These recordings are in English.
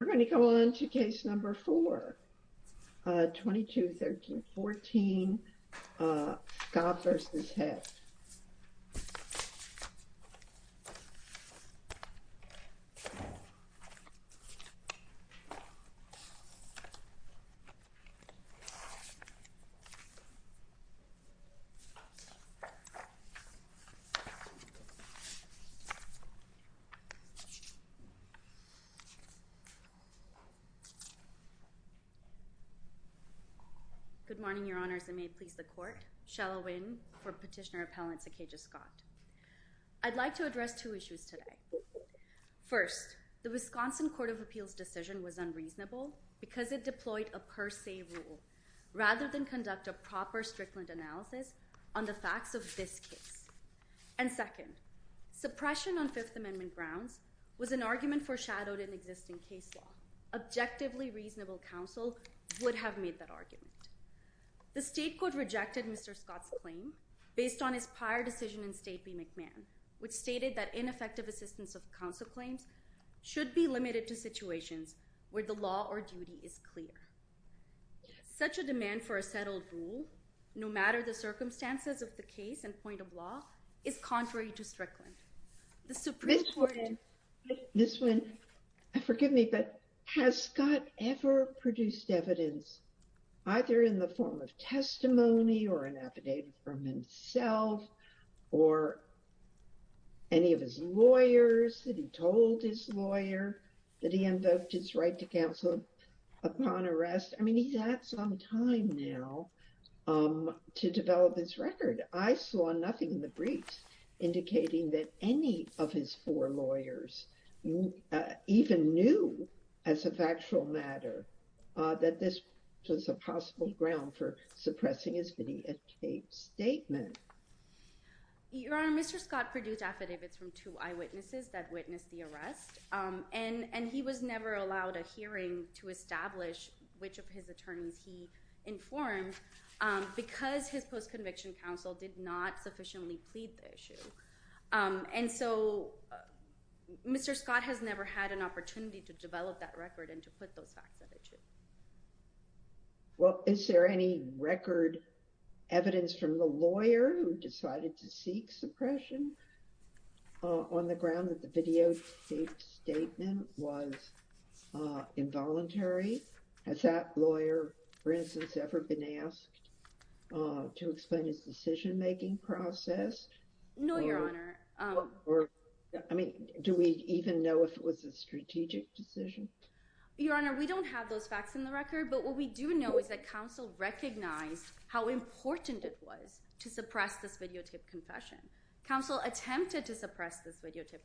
We're going to go on to case number 4, 22-13-14, Scott v. Hepp. Good morning, Your Honours, and may it please the Court, Shela Nguyen for Petitioner-Appellant Sakajust Scott. I'd like to address two issues today. First, the Wisconsin Court of Appeals' decision was unreasonable because it deployed a per se rule, rather than conduct a proper, strict analysis on the facts of this case. And second, suppression on Fifth Amendment grounds was an argument foreshadowed in existing case law. Objectively reasonable counsel would have made that argument. The state court rejected Mr. Scott's claim based on his prior decision in State v. McMahon, which stated that ineffective assistance of counsel claims should be limited to situations where the law or duty is clear. Such a demand for a settled rule, no matter the circumstances of the case and point of law, is contrary to Strickland. This one, forgive me, but has Scott ever produced evidence either in the form of testimony or an affidavit from himself or any of his lawyers that he told his lawyer that he invoked his right to counsel upon arrest? I mean, he's had some time now to develop this record. I saw nothing in the briefs indicating that any of his four lawyers even knew, as a factual matter, that this was a possible ground for suppressing his videotaped statement. Your Honor, Mr. Scott produced affidavits from two eyewitnesses that witnessed the arrest, and he was never allowed a hearing to establish which of his attorneys he informed because his post-conviction counsel did not sufficiently plead the issue. And so Mr. Scott has never had an opportunity to develop that record and to put those facts at issue. Well, is there any record evidence from the lawyer who decided to seek suppression on the ground that the videotaped statement was involuntary? Has that lawyer, for instance, ever been asked to explain his decision-making process? No, Your Honor. I mean, do we even know if it was a strategic decision? Your Honor, we don't have those facts in the record, but what we do know is that counsel recognized how important it was to suppress this videotaped confession. Counsel attempted to suppress this videotaped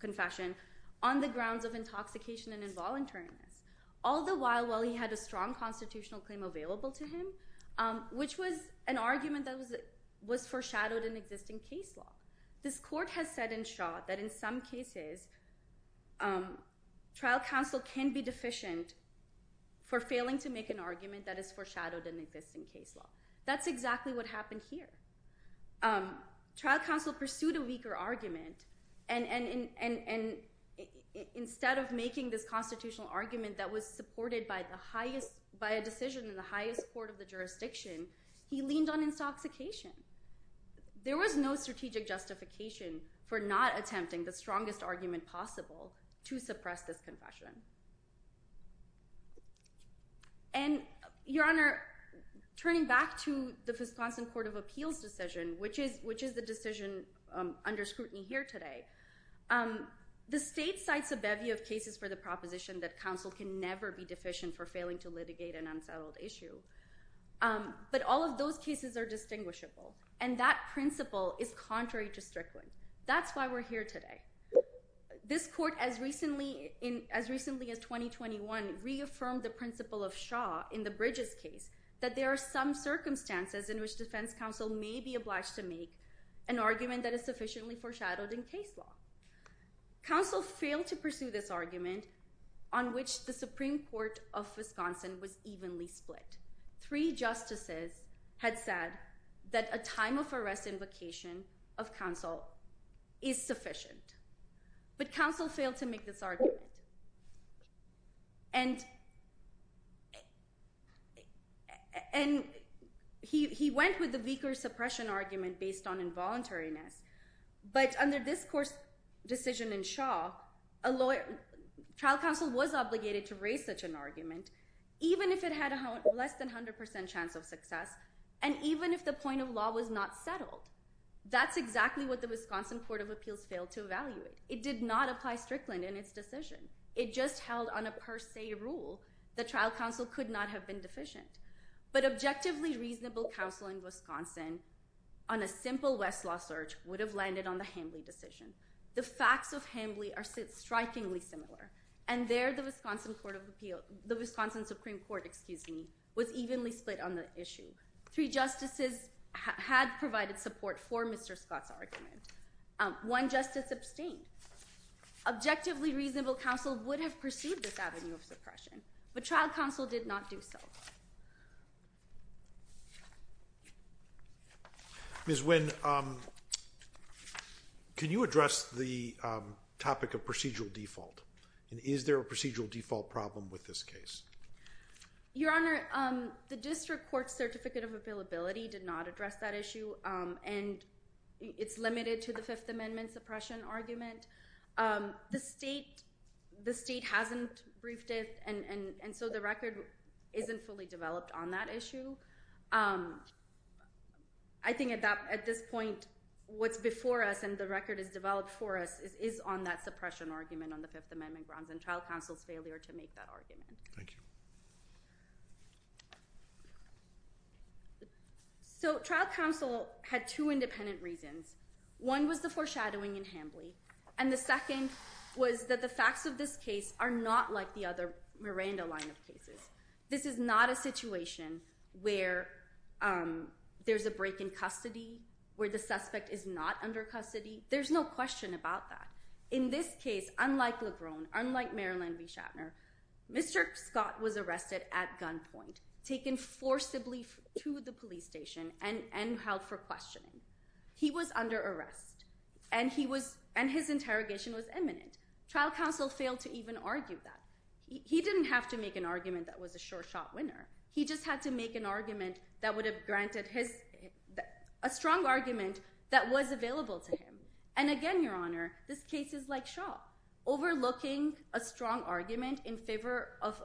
confession on the grounds of intoxication and involuntariness, all the while he had a strong constitutional claim available to him, which was an argument that was foreshadowed in existing case law. This court has said in shot that in some cases trial counsel can be deficient for failing to make an argument that is foreshadowed in existing case law. That's exactly what happened here. Trial counsel pursued a weaker argument, and instead of making this constitutional argument that was supported by a decision in the highest court of the jurisdiction, he leaned on intoxication. There was no strategic justification for not attempting the strongest argument possible to suppress this confession. And, Your Honor, turning back to the Wisconsin Court of Appeals decision, which is the decision under scrutiny here today, the state cites a bevy of cases for the proposition that counsel can never be deficient for failing to litigate an unsettled issue, but all of those cases are distinguishable, and that principle is contrary to Strickland. That's why we're here today. This court, as recently as 2021, reaffirmed the principle of Shaw in the Bridges case that there are some circumstances in which defense counsel may be obliged to make an argument that is sufficiently foreshadowed in case law. Counsel failed to pursue this argument on which the Supreme Court of Wisconsin was evenly split. Three justices had said that a time of arrest invocation of counsel is sufficient, but counsel failed to make this argument. And he went with the weaker suppression argument based on involuntariness, but under this court's decision in Shaw, a trial counsel was obligated to raise such an argument, even if it had less than 100% chance of success, and even if the point of law was not settled. That's exactly what the Wisconsin Court of Appeals failed to evaluate. It did not apply Strickland in its decision. It just held on a per se rule that trial counsel could not have been deficient. But objectively reasonable counsel in Wisconsin on a simple Westlaw search would have landed on the Hambly decision. The facts of Hambly are strikingly similar, and there the Wisconsin Supreme Court was evenly split on the issue. Three justices had provided support for Mr. Scott's argument. One justice abstained. Objectively reasonable counsel would have pursued this avenue of suppression, but trial counsel did not do so. Ms. Wynn, can you address the topic of procedural default? And is there a procedural default problem with this case? Your Honor, the district court's certificate of availability did not address that issue, and it's limited to the Fifth Amendment suppression argument. The state hasn't briefed it, and so the record isn't fully developed on that issue. I think at this point, what's before us and the record is developed for us is on that Fifth Amendment grounds and trial counsel's failure to make that argument. Thank you. So trial counsel had two independent reasons. One was the foreshadowing in Hambly, and the second was that the facts of this case are not like the other Miranda line of cases. This is not a situation where there's a break in custody, where the suspect is not under custody. There's no question about that. In this case, unlike Lebron, unlike Marilyn B. Shatner, Mr. Scott was arrested at gunpoint, taken forcibly to the police station, and held for questioning. He was under arrest, and his interrogation was imminent. Trial counsel failed to even argue that. He didn't have to make an argument that was a sure-shot winner. He just had to make an argument that would have granted a strong argument that was available to him. And again, Your Honor, this case is like Shaw. Overlooking a strong argument in favor of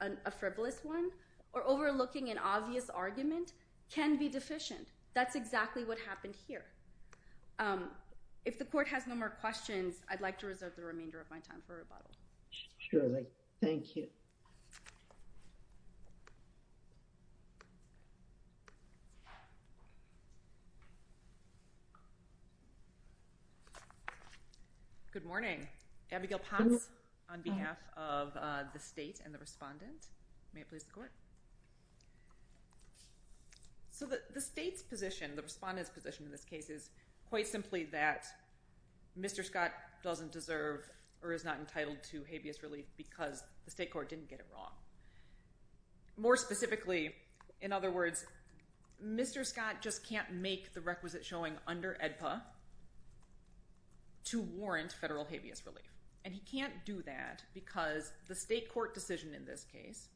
a frivolous one or overlooking an obvious argument can be deficient. That's exactly what happened here. If the court has no more questions, I'd like to reserve the remainder of my time for rebuttal. Thank you. Good morning. Abigail Ponce on behalf of the state and the respondent. May it please the court. So the state's position, the respondent's position in this case, is quite simply that Mr. Scott doesn't deserve or is not entitled to habeas relief because the state court didn't get it wrong. More specifically, in other words, Mr. Scott just can't make the requisite showing under AEDPA to warrant federal habeas relief. And he can't do that because the state court decision in this case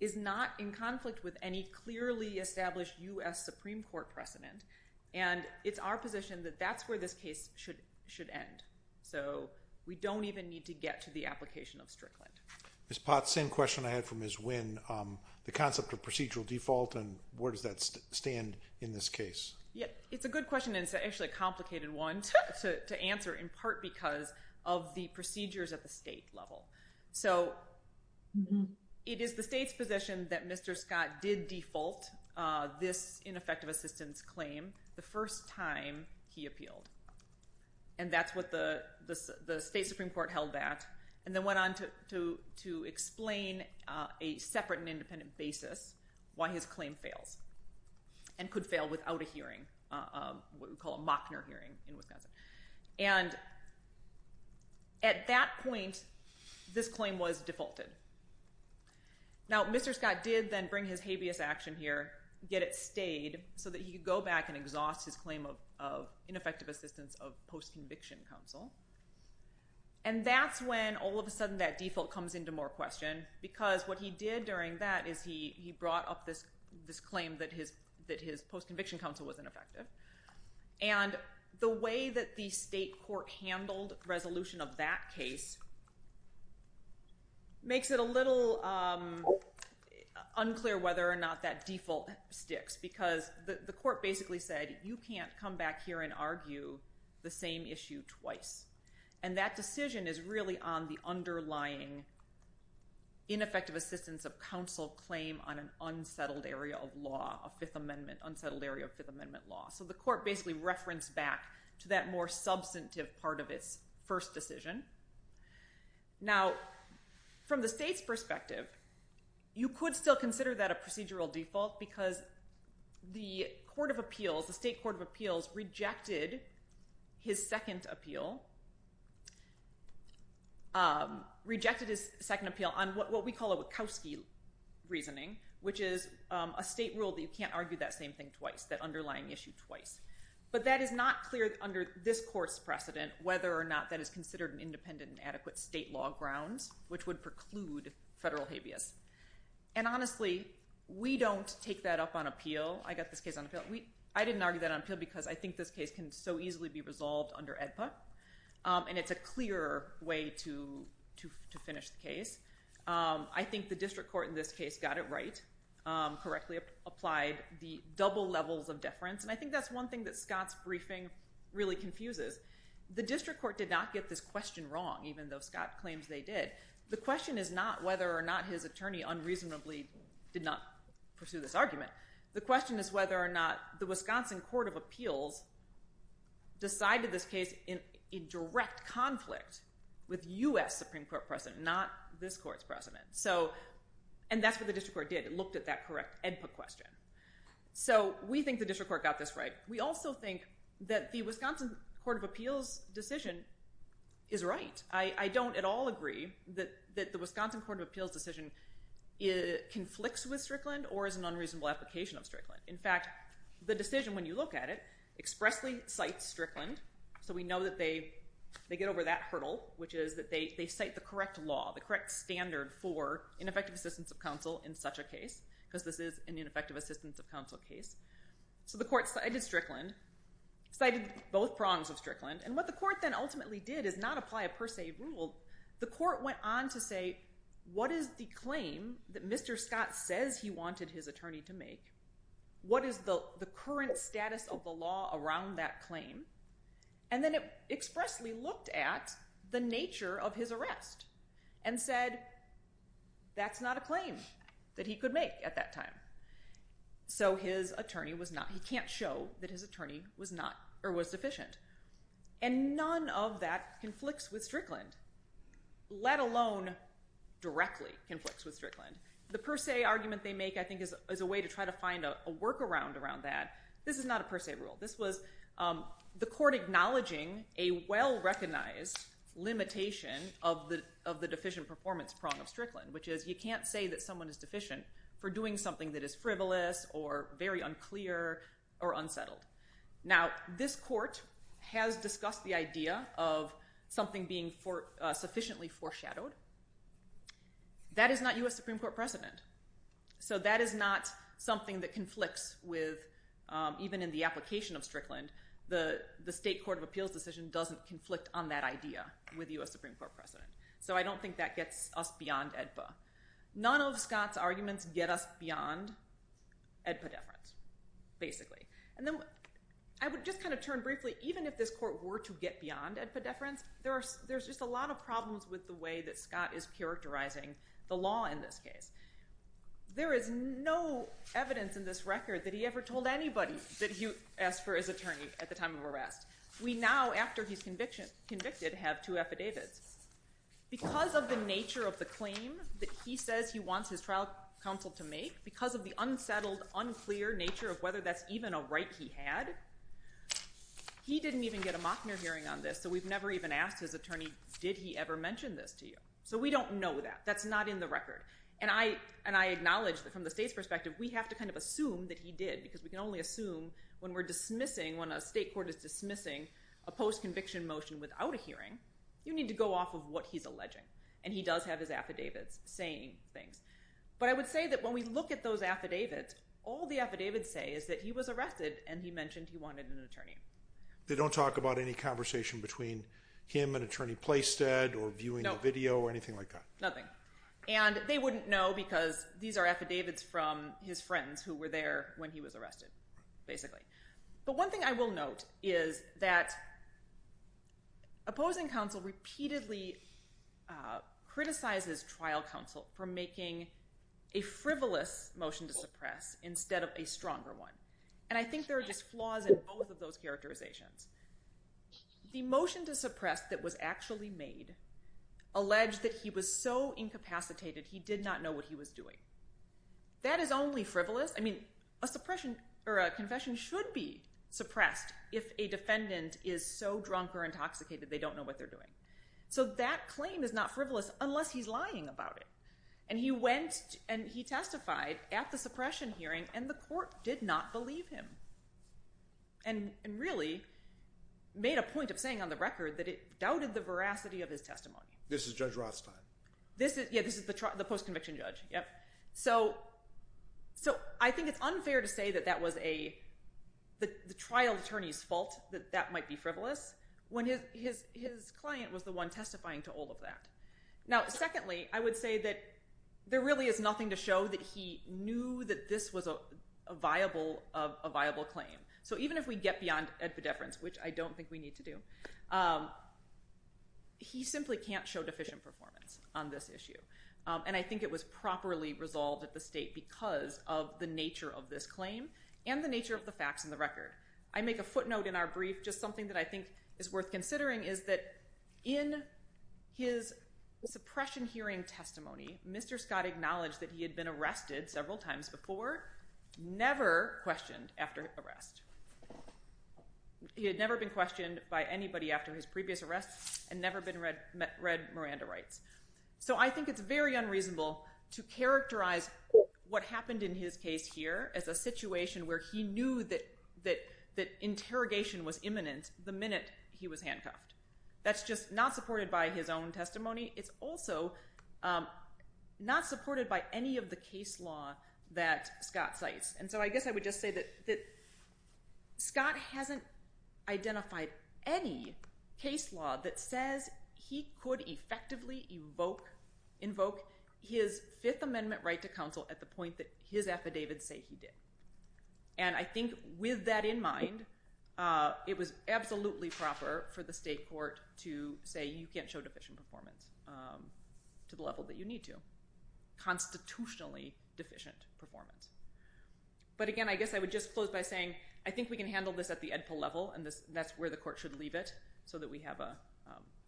is not in conflict with any clearly established U.S. Supreme Court precedent. And it's our position that that's where this case should end. So we don't even need to get to the application of Strickland. Ms. Potts, same question I had for Ms. Winn. The concept of procedural default and where does that stand in this case? It's a good question and it's actually a complicated one to answer in part because of the procedures at the state level. So it is the state's position that Mr. Scott did default this ineffective assistance claim the first time he appealed. And that's what the state Supreme Court held that and then went on to explain a separate and independent basis why his claim fails and could fail without a hearing, what we call a Mockner hearing in Wisconsin. And at that point, this claim was defaulted. Now, Mr. Scott did then bring his habeas action here, get it stayed so that he could go back and exhaust his claim of ineffective assistance of post-conviction counsel. And that's when all of a sudden that default comes into more question because what he did during that is he brought up this claim that his post-conviction counsel was ineffective. And the way that the state court handled resolution of that case makes it a little unclear whether or not that default sticks because the court basically said you can't come back here and argue the same issue twice. And that decision is really on the underlying ineffective assistance of counsel claim on an unsettled area of law, a Fifth Amendment, unsettled area of Fifth Amendment law. So the court basically referenced back to that more substantive part of its first decision. Now, from the state's perspective, you could still consider that a procedural default because the court of appeals, the state court of appeals rejected his second appeal, rejected his second reasoning, which is a state rule that you can't argue that same thing twice, that underlying issue twice. But that is not clear under this court's precedent whether or not that is considered an independent and adequate state law grounds, which would preclude federal habeas. And honestly, we don't take that up on appeal. I got this case on appeal. I didn't argue that on appeal because I think this case can so easily be resolved under AEDPA, and it's a clearer way to finish the case. I think the district court in this case got it right, correctly applied the double levels of deference, and I think that's one thing that Scott's briefing really confuses. The district court did not get this question wrong, even though Scott claims they did. The question is not whether or not his attorney unreasonably did not pursue this argument. The question is whether or not the Wisconsin court of appeals decided this case in direct conflict with U.S. Supreme Court precedent, not this court's precedent. And that's what the district court did. It looked at that correct AEDPA question. So we think the district court got this right. We also think that the Wisconsin court of appeals decision is right. I don't at all agree that the Wisconsin court of appeals decision conflicts with Strickland or is an unreasonable application of Strickland. In fact, the decision, when you look at it, expressly cites Strickland, so we know that they get over that hurdle, which is that they cite the correct law, the correct standard for ineffective assistance of counsel in such a case, because this is an ineffective assistance of counsel case. So the court cited Strickland, cited both prongs of Strickland, and what the court then ultimately did is not apply a per se rule. The court went on to say, what is the claim that Mr. Scott says he wanted his attorney to make? What is the current status of the law around that claim? And then it expressly looked at the nature of his arrest and said, that's not a claim that he could make at that time. So his attorney was not, he can't show that his attorney was deficient. And none of that conflicts with Strickland, let alone directly conflicts with Strickland. The per se argument they make, I think, is a way to try to find a workaround around that. This is not a per se rule. This was the court acknowledging a well-recognized limitation of the deficient performance prong of Strickland, which is you can't say that someone is deficient for doing something that is frivolous or very unclear or unsettled. Now, this court has discussed the idea of something being sufficiently foreshadowed. That is not U.S. Supreme Court precedent. So that is not something that conflicts with, even in the application of Strickland, the state court of appeals decision doesn't conflict on that idea with U.S. Supreme Court precedent. So I don't think that gets us beyond AEDPA. None of Scott's arguments get us beyond AEDPA deference, basically. And then I would just kind of turn briefly, even if this court were to get beyond AEDPA deference, there's just a lot of problems with the way that Scott is characterizing the law in this case. There is no evidence in this record that he ever told anybody that he asked for his attorney at the time of arrest. We now, after he's convicted, have two affidavits. Because of the nature of the claim that he says he wants his trial counsel to make, because of the unsettled, unclear nature of whether that's even a right he had, he didn't even get a Mockner hearing on this, so we've never even asked his attorney, did he ever mention this to you? So we don't know that. That's not in the record. And I acknowledge that from the state's perspective, we have to kind of assume that he did, because we can only assume when we're dismissing, when a state court is dismissing a post-conviction motion without a hearing, you need to go off of what he's alleging. And he does have his affidavits saying things. But I would say that when we look at those affidavits, all the affidavits say is that he was arrested and he mentioned he wanted an attorney. They don't talk about any conversation between him and Attorney Playstead or viewing the video or anything like that. Nothing. And they wouldn't know, because these are affidavits from his friends who were there when he was arrested, basically. But one thing I will note is that opposing counsel repeatedly criticizes trial counsel for making a frivolous motion to suppress instead of a stronger one. And I think there are just flaws in both of those characterizations. The motion to suppress that was actually made alleged that he was so incapacitated he did not know what he was doing. That is only frivolous. I mean, a suppression or a confession should be suppressed if a defendant is so drunk or intoxicated they don't know what they're doing. So that claim is not frivolous unless he's lying about it. And he went and he testified at the suppression hearing, and the court did not believe him. And really made a point of saying on the record that it doubted the veracity of his testimony. This is Judge Rothstein. Yeah, this is the post-conviction judge. So I think it's unfair to say that that was the trial attorney's fault that that might be frivolous when his client was the one testifying to all of that. Now, secondly, I would say that there really is nothing to show that he knew that this was a viable claim. So even if we get beyond epidephrans, which I don't think we need to do, he simply can't show deficient performance on this issue. And I think it was properly resolved at the state because of the nature of this claim and the nature of the facts in the record. I make a footnote in our brief. Just something that I think is worth considering is that in his suppression hearing testimony, Mr. Scott acknowledged that he had been arrested several times before. Never questioned after arrest. He had never been questioned by anybody after his previous arrest and never been read Miranda rights. So I think it's very unreasonable to characterize what happened in his case here as a situation where he knew that interrogation was imminent the minute he was handcuffed. That's just not supported by his own testimony. It's also not supported by any of the case law that Scott cites. And so I guess I would just say that Scott hasn't identified any case law that says he could effectively invoke his Fifth Amendment right to counsel at the point that his affidavits say he did. And I think with that in mind, it was absolutely proper for the state court to say, you can't show deficient performance to the level that you need to. Constitutionally deficient performance. But again, I guess I would just close by saying, I think we can handle this at the EDPA level and that's where the court should leave it so that we have a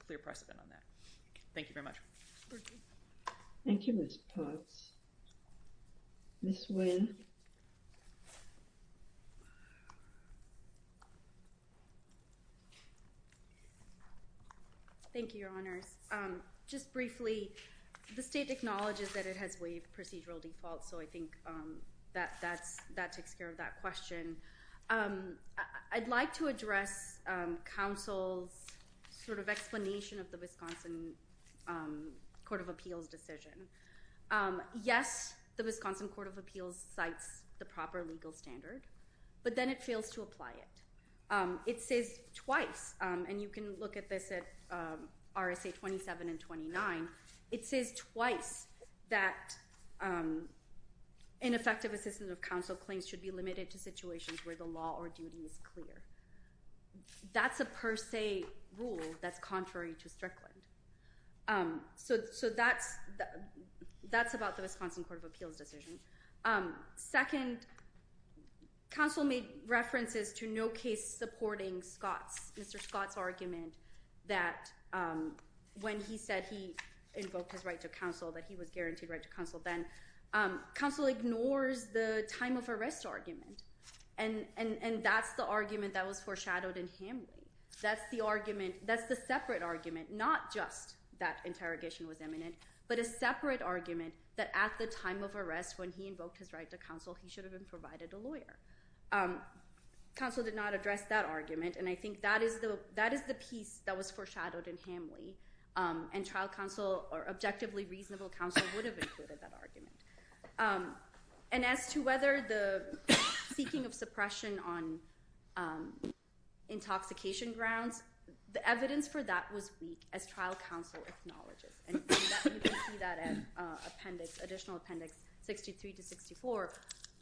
clear precedent on that. Thank you very much. Thank you, Ms. Potts. Ms. Wynn. Thank you, Your Honors. Just briefly, the state acknowledges that it has waived procedural defaults, so I think that takes care of that question. I'd like to address counsel's explanation of the Wisconsin Court of Appeals decision. Yes, the Wisconsin Court of Appeals cites the proper legal standard, but then it fails to apply it. It says twice, and you can look at this at RSA 27 and 29, it says twice that ineffective assistance of counsel claims should be limited to situations where the law or duty is clear. That's a per se rule that's contrary to Strickland. So that's about the Wisconsin Court of Appeals decision. Second, counsel made references to no case supporting Scott's, Mr. Scott's argument that when he said he invoked his right to counsel, that he was guaranteed right to counsel then. Counsel ignores the time of arrest argument, and that's the argument that was foreshadowed in Hamlin. That's the argument, that's the separate argument, not just that interrogation was imminent, but a separate argument that at the time of arrest when he invoked his right to counsel, he should have been provided a lawyer. Counsel did not address that argument, and I think that is the piece that was foreshadowed in Hamlin, and trial counsel or objectively reasonable counsel would have included that argument. And as to whether the seeking of suppression on intoxication grounds, the evidence for that was weak as trial counsel acknowledges. And you can see that in appendix, additional appendix 63 to 64.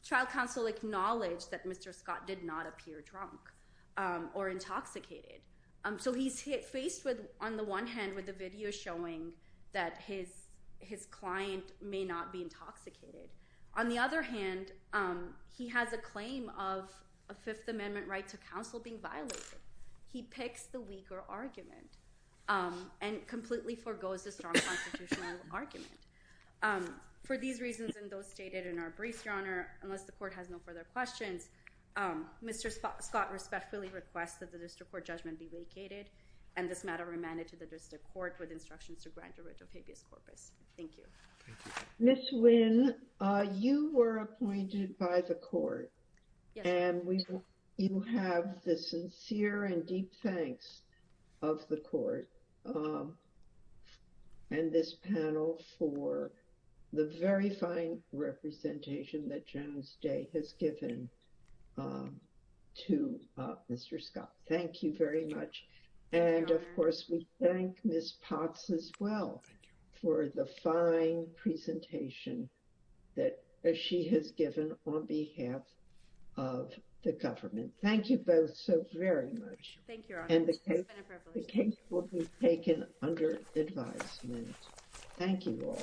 Trial counsel acknowledged that Mr. Scott did not appear drunk or intoxicated. So he's faced with, on the one hand, with the video showing that his client may not be intoxicated. On the other hand, he has a claim of a Fifth Amendment right to counsel being violated. He picks the weaker argument and completely forgoes the strong constitutional argument. For these reasons and those stated in our briefs, Your Honor, unless the court has no further questions, Mr. Scott respectfully requests that the district court judgment be vacated and this matter remanded to the district court with instructions to grant a writ of habeas corpus. Thank you. Thank you. Ms. Wynn, you were appointed by the court. Yes. And you have the sincere and deep thanks of the court and this panel for the very fine representation that Jones Day has given to Mr. Scott. Thank you very much. And, of course, we thank Ms. Potts as well for the fine presentation that she has given on behalf of the government. Thank you both so very much. Thank you, Your Honor. And the case will be taken under advisement. Thank you all.